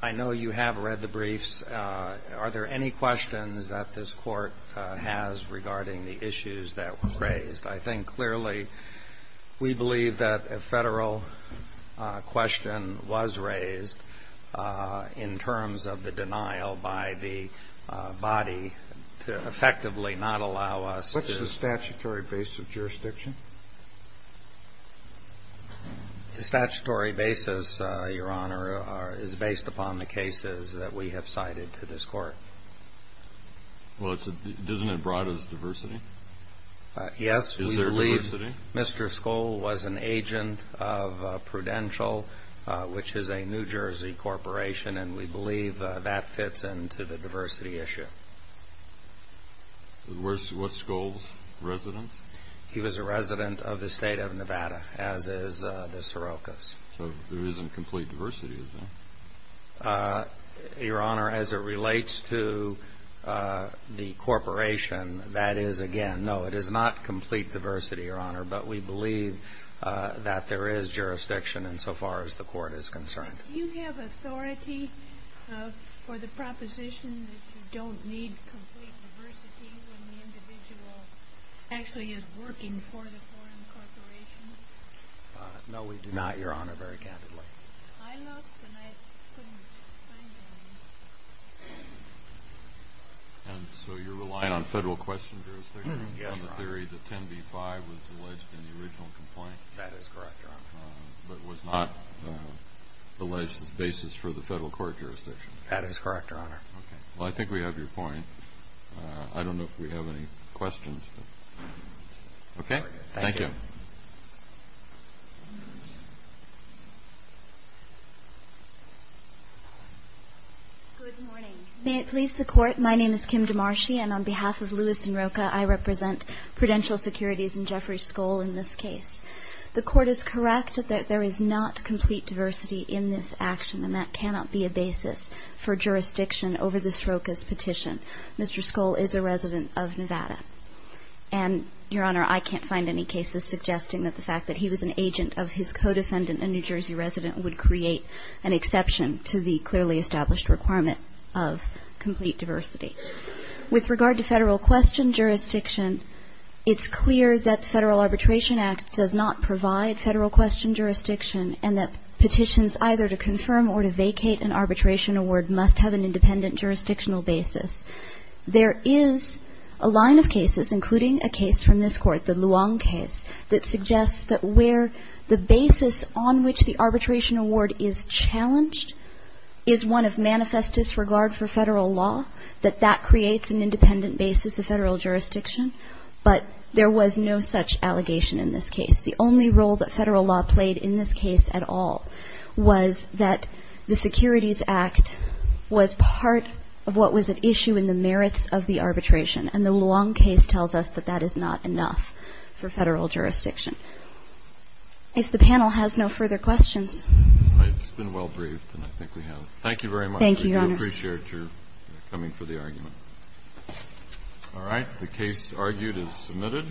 I know you have read the briefs. Are there any questions that this court has regarding the issues that were raised? I think clearly we believe that a federal question was raised in terms of the denial by the body to effectively not allow us to have a statutory basis of jurisdiction? The statutory basis, your honor, is based upon the cases that we have cited to this court. Well, isn't it broad as diversity? Yes, we believe Mr. Skoll was an agent of Prudential, which is a New Jersey corporation, and we He was a resident of the state of Nevada, as is the Srokas. So there isn't complete diversity, is there? Your honor, as it relates to the corporation, that is, again, no, it is not complete diversity, your honor, but we believe that there is jurisdiction insofar as the court is concerned. Do you have authority for the proposition that you don't need complete diversity? Actually, is working for the foreign corporation? No, we do not, your honor, very candidly. I looked, and I couldn't find it. And so you're relying on federal question jurisdiction? Yes, your honor. On the theory that 10b-5 was alleged in the original complaint? That is correct, your honor. But was not alleged as basis for the federal court jurisdiction? That is correct, your honor. Okay. Well, I think we have your point. I don't know if we have any questions. Okay. Thank you. Good morning. May it please the Court, my name is Kim DeMarschi, and on behalf of Lewis & Rocha, I represent Prudential Securities and Jeffrey Skoll in this case. The Court is correct that there is not complete diversity in this action, and that cannot be a basis for jurisdiction over the Srokas petition. Mr. Skoll is a resident of Nevada. And, your honor, I can't find any cases suggesting that the fact that he was an agent of his co-defendant, a New Jersey resident, would create an exception to the clearly established requirement of complete diversity. With regard to federal question jurisdiction, it's clear that the Federal Arbitration Act does not provide federal question jurisdiction, and that petitions either to confirm or to vacate an arbitration award must have an independent jurisdictional basis. There is a line of cases, including a case from this Court, the Luong case, that suggests that where the basis on which the arbitration award is challenged is one of manifest disregard for federal law, that that creates an independent basis of federal jurisdiction. But there was no such allegation in this case. The only role that federal law played in this case at all was that the Securities Act was part of what was at issue in the merits of the arbitration, and the Luong case tells us that that is not enough for federal jurisdiction. If the panel has no further questions. I've been well-briefed, and I think we have. Thank you very much. Thank you, your honor. We do appreciate your coming for the argument. All right. The case argued is submitted.